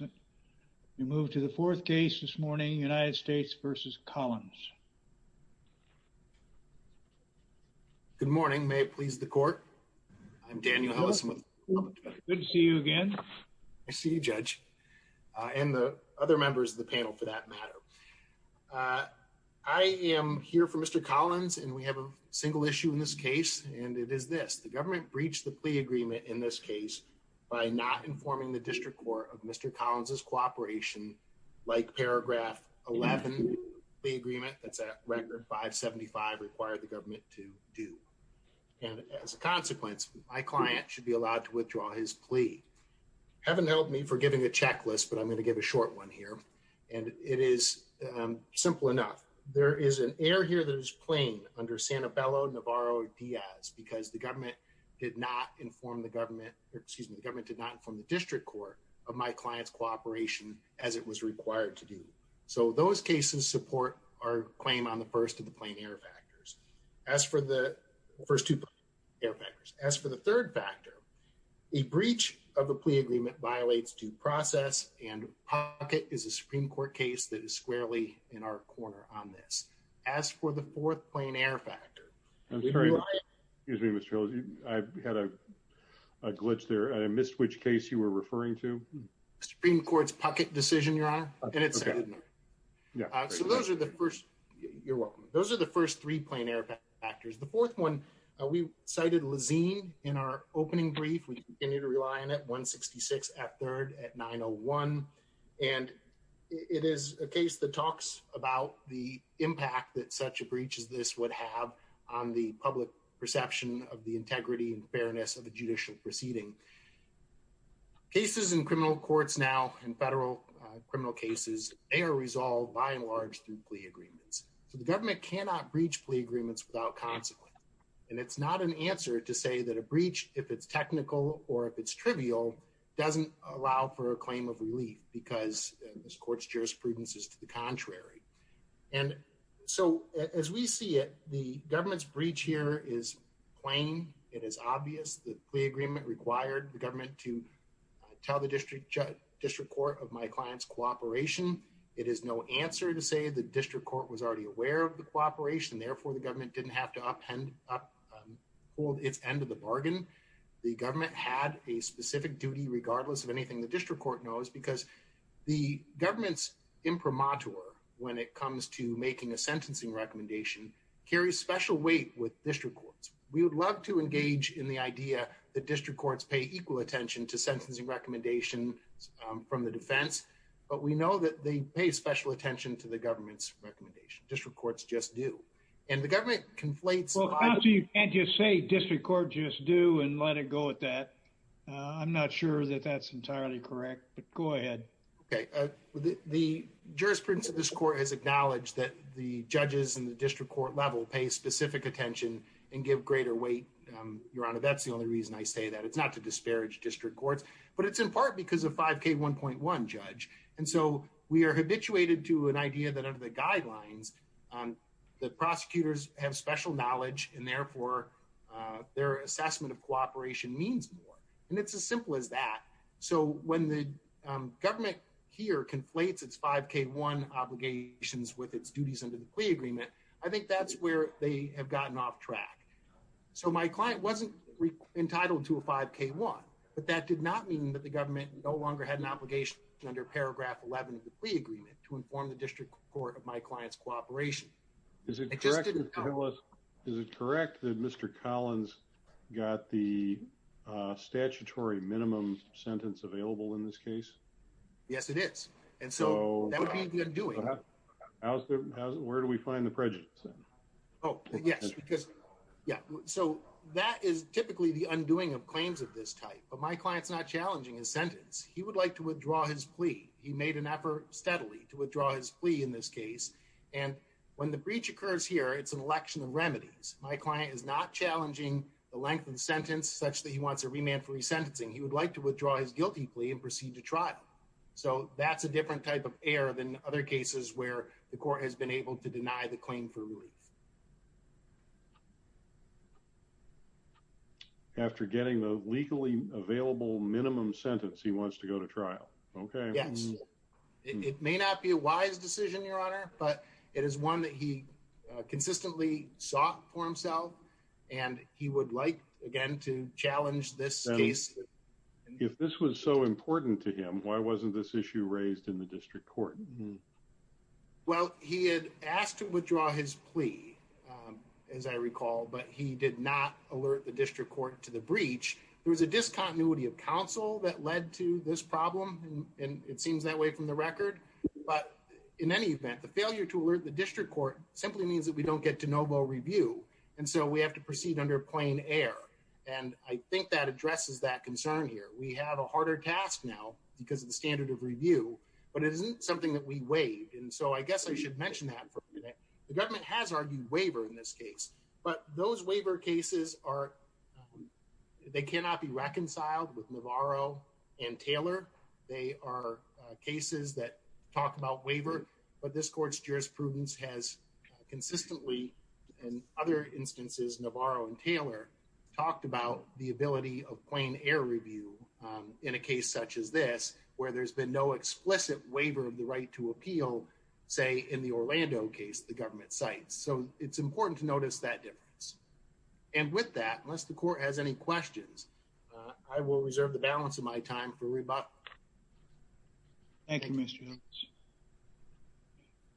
Good morning. May it please the court. I'm Daniel. Good to see you again. I see you judge and the other members of the panel for that matter. I am here for Mr. Collins and we have a single issue in this case and it is this the government breached the plea agreement in this case by not informing the district court of Mr. Collins is cooperation like paragraph 11 the agreement that's at record 575 required the government to do and as a consequence, my client should be allowed to withdraw his plea haven't helped me for giving a checklist, but I'm going to give a short one here and it is. And it is simple enough. There is an air here that is playing under Santa Bella Navarro Diaz because the government did not inform the government or excuse me government did not from the district court of my clients cooperation as it was required to do so those cases support our claim on the first of the plane air factors as for the first two factors as for the third factor, a breach of the plea agreement violates due process and pocket is a Supreme Court case that is squarely in our corner on this as for the fourth plane air factor. Excuse me, Mr. I've had a glitch there I missed which case you were referring to Supreme Court's pocket decision, your honor, and it's. Yeah, so those are the first. You're welcome. Those are the first three plane air factors. The fourth one, we cited Lizzie in our opening brief we continue to rely on at 166 at third at 901. And it is a case that talks about the impact that such a breach is this would have on the public perception of the integrity and fairness of the judicial proceeding. Cases in criminal courts now in federal criminal cases, they are resolved by and large through plea agreements, so the government cannot breach plea agreements without consequence. And it's not an answer to say that a breach, if it's technical or if it's trivial doesn't allow for a claim of relief, because this court's jurisprudence is to the contrary. And so, as we see it, the government's breach here is plain, it is obvious that the agreement required the government to tell the district district court of my clients cooperation. It is no answer to say the district court was already aware of the cooperation therefore the government didn't have to up and hold its end of the bargain. The government had a specific duty regardless of anything the district court knows because the government's imprimatur when it comes to making a sentencing recommendation carries special weight with district courts. We would love to engage in the idea that district courts pay equal attention to sentencing recommendation from the defense, but we know that they pay special attention to the government's recommendation district courts just do. And the government conflates and just say district court just do and let it go with that. I'm not sure that that's entirely correct, but go ahead. Okay. The jurisprudence of this court has acknowledged that the judges and the district court level pay specific attention and give greater weight. That's the only reason I say that it's not to disparage district courts, but it's in part because of 5k 1.1 judge. And so, we are habituated to an idea that under the guidelines on the prosecutors have special knowledge, and therefore, their assessment of cooperation means more. And it's as simple as that. So when the government here conflates it's 5k one obligations with its duties under the agreement. I think that's where they have gotten off track. So, my client wasn't entitled to a 5k one, but that did not mean that the government no longer had an obligation under paragraph 11 of the agreement to inform the district court of my clients cooperation. Is it correct? Is it correct that Mr. Collins got the statutory minimum sentence available in this case? Yes, it is. And so, that would be the undoing. Where do we find the prejudice? Oh, yes, because yeah, so that is typically the undoing of claims of this type, but my client's not challenging his sentence. He would like to withdraw his plea. He made an effort steadily to withdraw his plea in this case. And when the breach occurs here, it's an election of remedies. My client is not challenging the length of the sentence such that he wants a remand for resentencing. He would like to withdraw his guilty plea and proceed to trial. So, that's a different type of error than other cases where the court has been able to deny the claim for relief. After getting the legally available minimum sentence, he wants to go to trial. Okay. Yes, it may not be a wise decision, Your Honor, but it is one that he consistently sought for himself and he would like again to challenge this case. If this was so important to him, why wasn't this issue raised in the district court? Well, he had asked to withdraw his plea, as I recall, but he did not alert the district court to the breach. There was a discontinuity of counsel that led to this problem, and it seems that way from the record. But in any event, the failure to alert the district court simply means that we don't get de novo review. And so, we have to proceed under plain air, and I think that addresses that concern here. We have a harder task now because of the standard of review, but it isn't something that we waived. And so, I guess I should mention that for a minute. The government has argued waiver in this case, but those waiver cases are, they cannot be reconciled with Navarro and Taylor. They are cases that talk about waiver, but this court's jurisprudence has consistently, in other instances, Navarro and Taylor, talked about the ability of plain air review in a case such as this, where there's been no explicit waiver of the right to appeal, say, in the Orlando case, the government cites. So, it's important to notice that difference. And with that, unless the court has any questions, I will reserve the balance of my time for rebuttal. Thank you, Mr. Evans.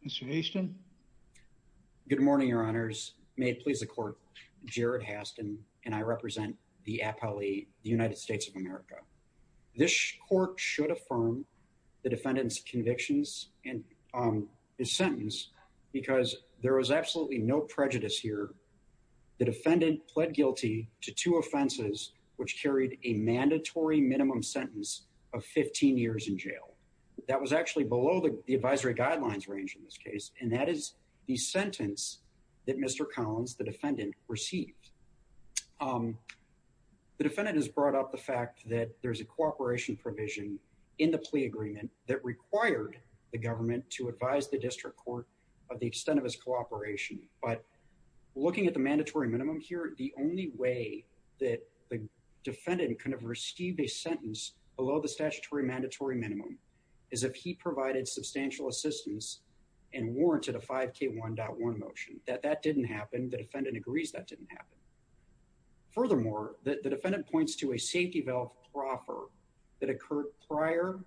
Mr. Haston? Good morning, Your Honors. May it please the court, Jared Haston, and I represent the appellee, the United States of America. This court should affirm the defendant's convictions and his sentence because there was absolutely no prejudice here. The defendant pled guilty to two offenses, which carried a mandatory minimum sentence of 15 years in jail. That was actually below the advisory guidelines range in this case, and that is the sentence that Mr. Collins, the defendant, received. The defendant has brought up the fact that there's a cooperation provision in the plea agreement that required the government to advise the district court of the extent of his cooperation. But looking at the mandatory minimum here, the only way that the defendant could have received a sentence below the statutory mandatory minimum is if he provided substantial assistance and warranted a 5K1.1 motion. That didn't happen. The defendant agrees that didn't happen. Furthermore, the defendant points to a safety valve proffer that occurred prior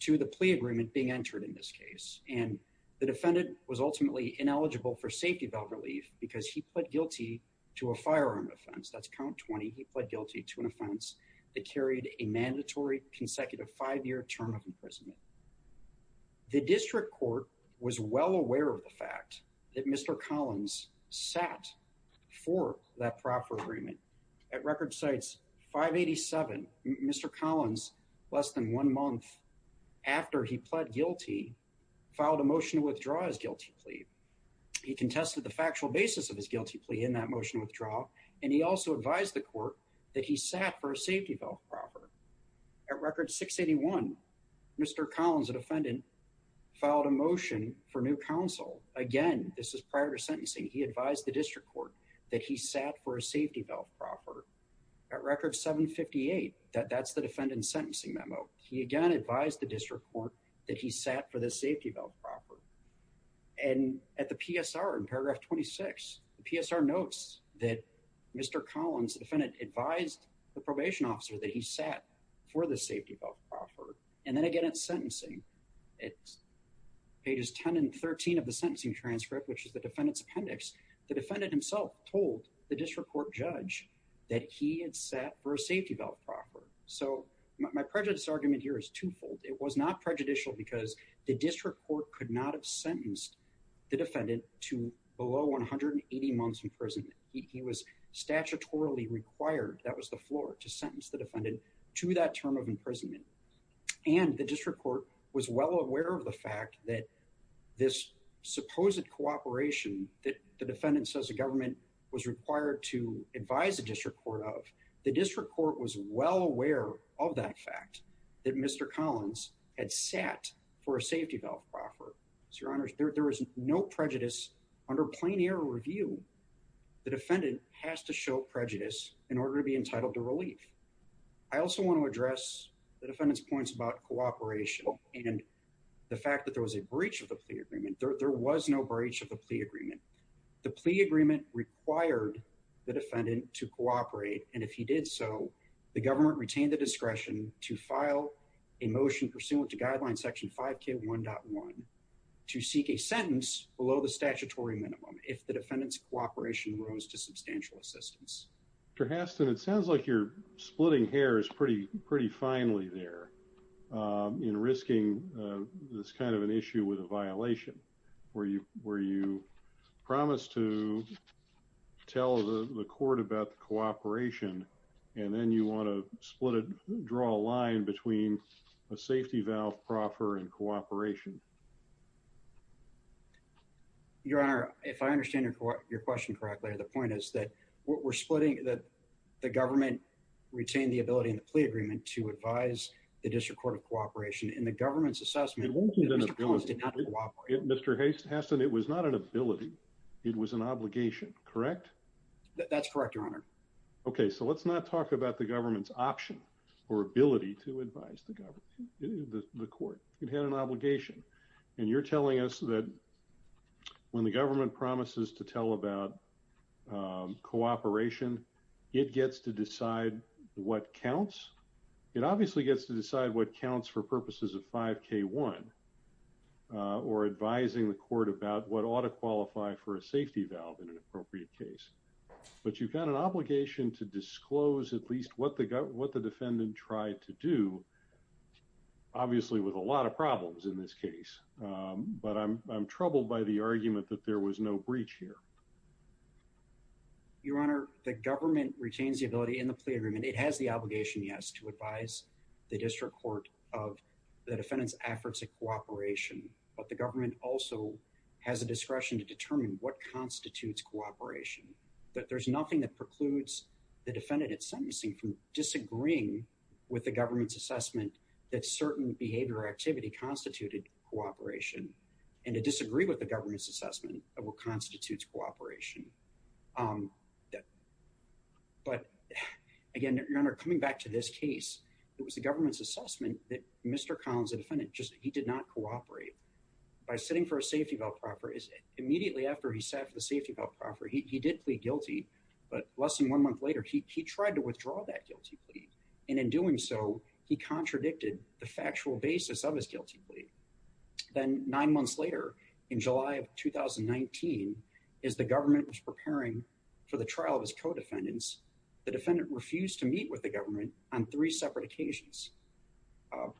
to the plea agreement being entered in this case. And the defendant was ultimately ineligible for safety valve relief because he pled guilty to a firearm offense. That's count 20. He pled guilty to an offense that carried a mandatory consecutive five-year term of imprisonment. The district court was well aware of the fact that Mr. Collins sat for that proffer agreement. At record sites 587, Mr. Collins, less than one month after he pled guilty, filed a motion to withdraw his guilty plea. He contested the factual basis of his guilty plea in that motion withdrawal, and he also advised the court that he sat for a safety valve proffer. At record 681, Mr. Collins, a defendant, filed a motion for new counsel. Again, this is prior to sentencing. He advised the district court that he sat for a safety valve proffer. At record 758, that's the defendant's sentencing memo. He again advised the district court that he sat for the safety valve proffer. And at the PSR in paragraph 26, the PSR notes that Mr. Collins, the defendant, advised the probation officer that he sat for the safety valve proffer. And then again, it's sentencing. It's pages 10 and 13 of the sentencing transcript, which is the defendant's appendix. The defendant himself told the district court judge that he had sat for a safety valve proffer. My prejudice argument here is twofold. It was not prejudicial because the district court could not have sentenced the defendant to below 180 months in prison. He was statutorily required, that was the floor, to sentence the defendant to that term of imprisonment. And the district court was well aware of the fact that this supposed cooperation that the defendant says the government was required to advise the district court of, the district court was well aware of that fact that Mr. Collins had sat for a safety valve proffer. So your honors, there is no prejudice under plain air review. The defendant has to show prejudice in order to be entitled to relief. I also want to address the defendant's points about cooperation and the fact that there was a breach of the plea agreement. There was no breach of the plea agreement. The plea agreement required the defendant to cooperate. And if he did so, the government retained the discretion to file a motion pursuant to Guideline Section 5K1.1 to seek a sentence below the statutory minimum if the defendant's cooperation rose to substantial assistance. Mr. Haston, it sounds like you're splitting hairs pretty, pretty finely there in risking this kind of an issue with a violation where you promise to tell the court about the cooperation and then you want to split it, draw a line between a safety valve proffer and cooperation. Your honor, if I understand your question correctly, the point is that we're splitting that the government retained the ability in the plea agreement to advise the district court of cooperation in the government's assessment. Mr. Haston, it was not an ability. It was an obligation, correct? That's correct, your honor. Okay, so let's not talk about the government's option or ability to advise the government, the court. It had an obligation. And you're telling us that when the government promises to tell about cooperation, it gets to decide what counts? It obviously gets to decide what counts for purposes of 5K1 or advising the court about what ought to qualify for a safety valve in an appropriate case. But you've got an obligation to disclose at least what the defendant tried to do, obviously with a lot of problems in this case. But I'm troubled by the argument that there was no breach here. Your honor, the government retains the ability in the plea agreement. It has the obligation, yes, to advise the district court of the defendant's efforts at cooperation. But the government also has a discretion to determine what constitutes cooperation. But there's nothing that precludes the defendant at sentencing from disagreeing with the government's assessment that certain behavior or activity constituted cooperation. And to disagree with the government's assessment of what constitutes cooperation. But, again, your honor, coming back to this case, it was the government's assessment that Mr. Collins, the defendant, just he did not cooperate. By sitting for a safety valve proffer, immediately after he sat for the safety valve proffer, he did plead guilty. But less than one month later, he tried to withdraw that guilty plea. And in doing so, he contradicted the factual basis of his guilty plea. Then nine months later, in July of 2019, as the government was preparing for the trial of his co-defendants, the defendant refused to meet with the government on three separate occasions.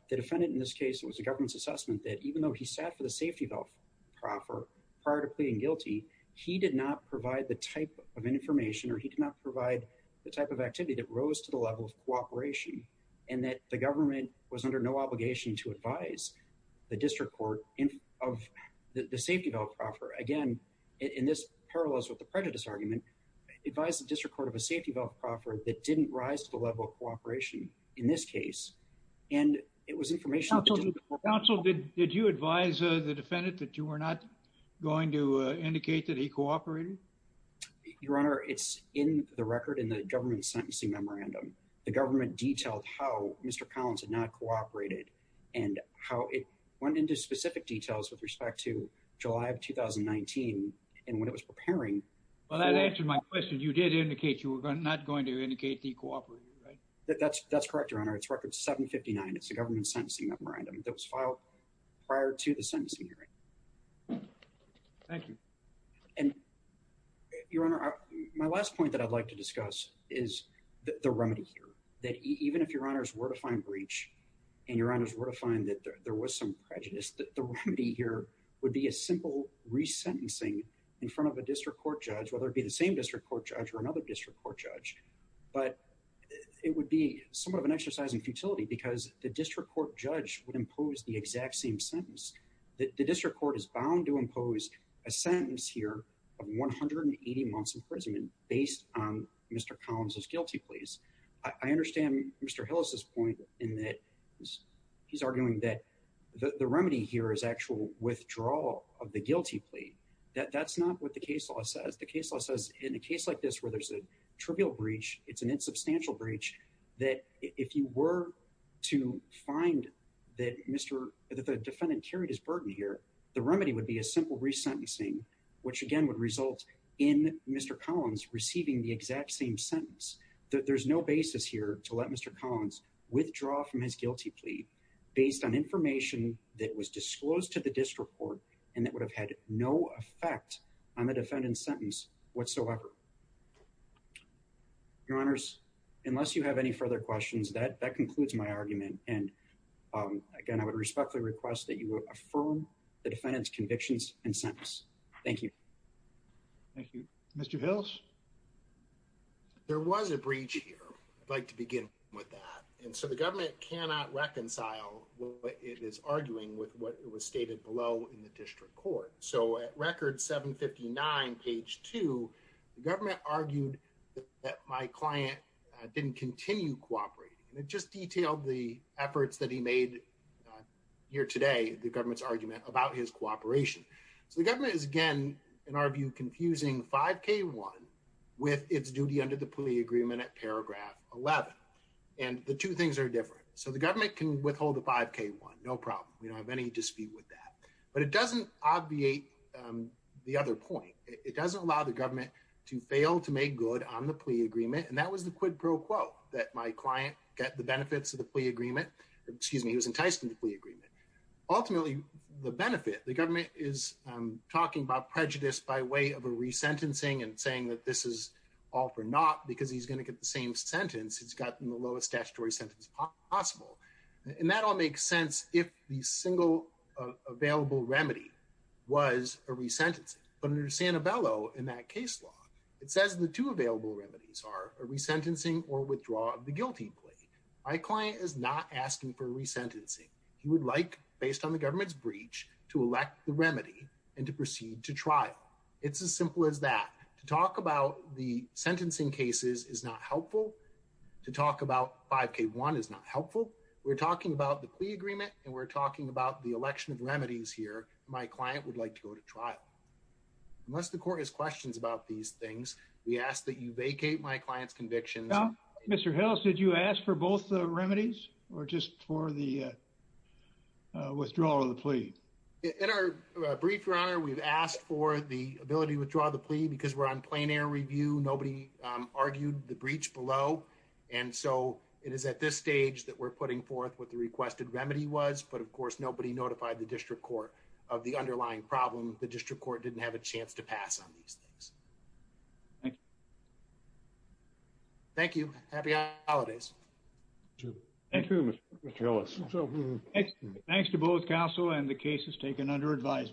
The defendant, in this case, it was the government's assessment that even though he sat for the safety valve proffer prior to pleading guilty, he did not provide the type of information or he did not provide the type of activity that rose to the level of cooperation. And that the government was under no obligation to advise the district court of the safety valve proffer. Again, in this parallels with the prejudice argument, advise the district court of a safety valve proffer that didn't rise to the level of cooperation in this case. And it was information that didn't... Counsel, did you advise the defendant that you were not going to indicate that he cooperated? Your honor, it's in the record in the government's sentencing memorandum. The government detailed how Mr. Collins had not cooperated and how it went into specific details with respect to July of 2019. And when it was preparing... Well, that answered my question. You did indicate you were not going to indicate he cooperated, right? That's correct, your honor. It's record 759. It's the government's sentencing memorandum that was filed prior to the sentencing hearing. Thank you. And your honor, my last point that I'd like to discuss is the remedy here. That even if your honors were to find breach and your honors were to find that there was some prejudice, the remedy here would be a simple resentencing in front of a district court judge, whether it be the same district court judge or another district court judge. But it would be somewhat of an exercise in futility because the district court judge would impose the exact same sentence. The district court is bound to impose a sentence here of 180 months imprisonment based on Mr. Collins' guilty pleas. I understand Mr. Hillis' point in that he's arguing that the remedy here is actual withdrawal of the guilty plea. That's not what the case law says. The case law says in a case like this where there's a trivial breach, it's an insubstantial breach, that if you were to find that the defendant carried his burden here, the remedy would be a simple resentencing, which again would result in Mr. Collins receiving the exact same sentence. There's no basis here to let Mr. Collins withdraw from his guilty plea based on information that was disclosed to the district court and that would have had no effect on the defendant's sentence whatsoever. Your honors, unless you have any further questions, that concludes my argument. And again, I would respectfully request that you affirm the defendant's convictions and sentence. Thank you. Thank you. Mr. Hillis? There was a breach here. I'd like to begin with that. And so the government cannot reconcile what it is arguing with what was stated below in the district court. So at record 759, page 2, the government argued that my client didn't continue cooperating. And it just detailed the efforts that he made here today, the government's argument about his cooperation. So the government is, again, in our view, confusing 5K1 with its duty under the plea agreement at paragraph 11. And the two things are different. So the government can withhold the 5K1, no problem. We don't have any dispute with that. But it doesn't obviate the other point. It doesn't allow the government to fail to make good on the plea agreement. And that was the quid pro quo, that my client got the benefits of the plea agreement. Excuse me, he was enticed in the plea agreement. Ultimately, the benefit, the government is talking about prejudice by way of a resentencing and saying that this is all for naught because he's going to get the same sentence. He's gotten the lowest statutory sentence possible. And that all makes sense if the single available remedy was a resentencing. But under Sanabello, in that case law, it says the two available remedies are a resentencing or withdrawal of the guilty plea. My client is not asking for resentencing. He would like, based on the government's breach, to elect the remedy and to proceed to trial. It's as simple as that. To talk about the sentencing cases is not helpful. To talk about 5K1 is not helpful. We're talking about the plea agreement and we're talking about the election of remedies here. My client would like to go to trial. Unless the court has questions about these things, we ask that you vacate my client's convictions. Mr. Hills, did you ask for both the remedies or just for the withdrawal of the plea? In our brief, Your Honor, we've asked for the ability to withdraw the plea because we're on plain air review. Nobody argued the breach below. And so it is at this stage that we're putting forth what the requested remedy was. But, of course, nobody notified the district court of the underlying problem. The district court didn't have a chance to pass on these things. Thank you. Thank you. Happy holidays. Thank you, Mr. Hills. Thanks to both counsel and the cases taken under advisement.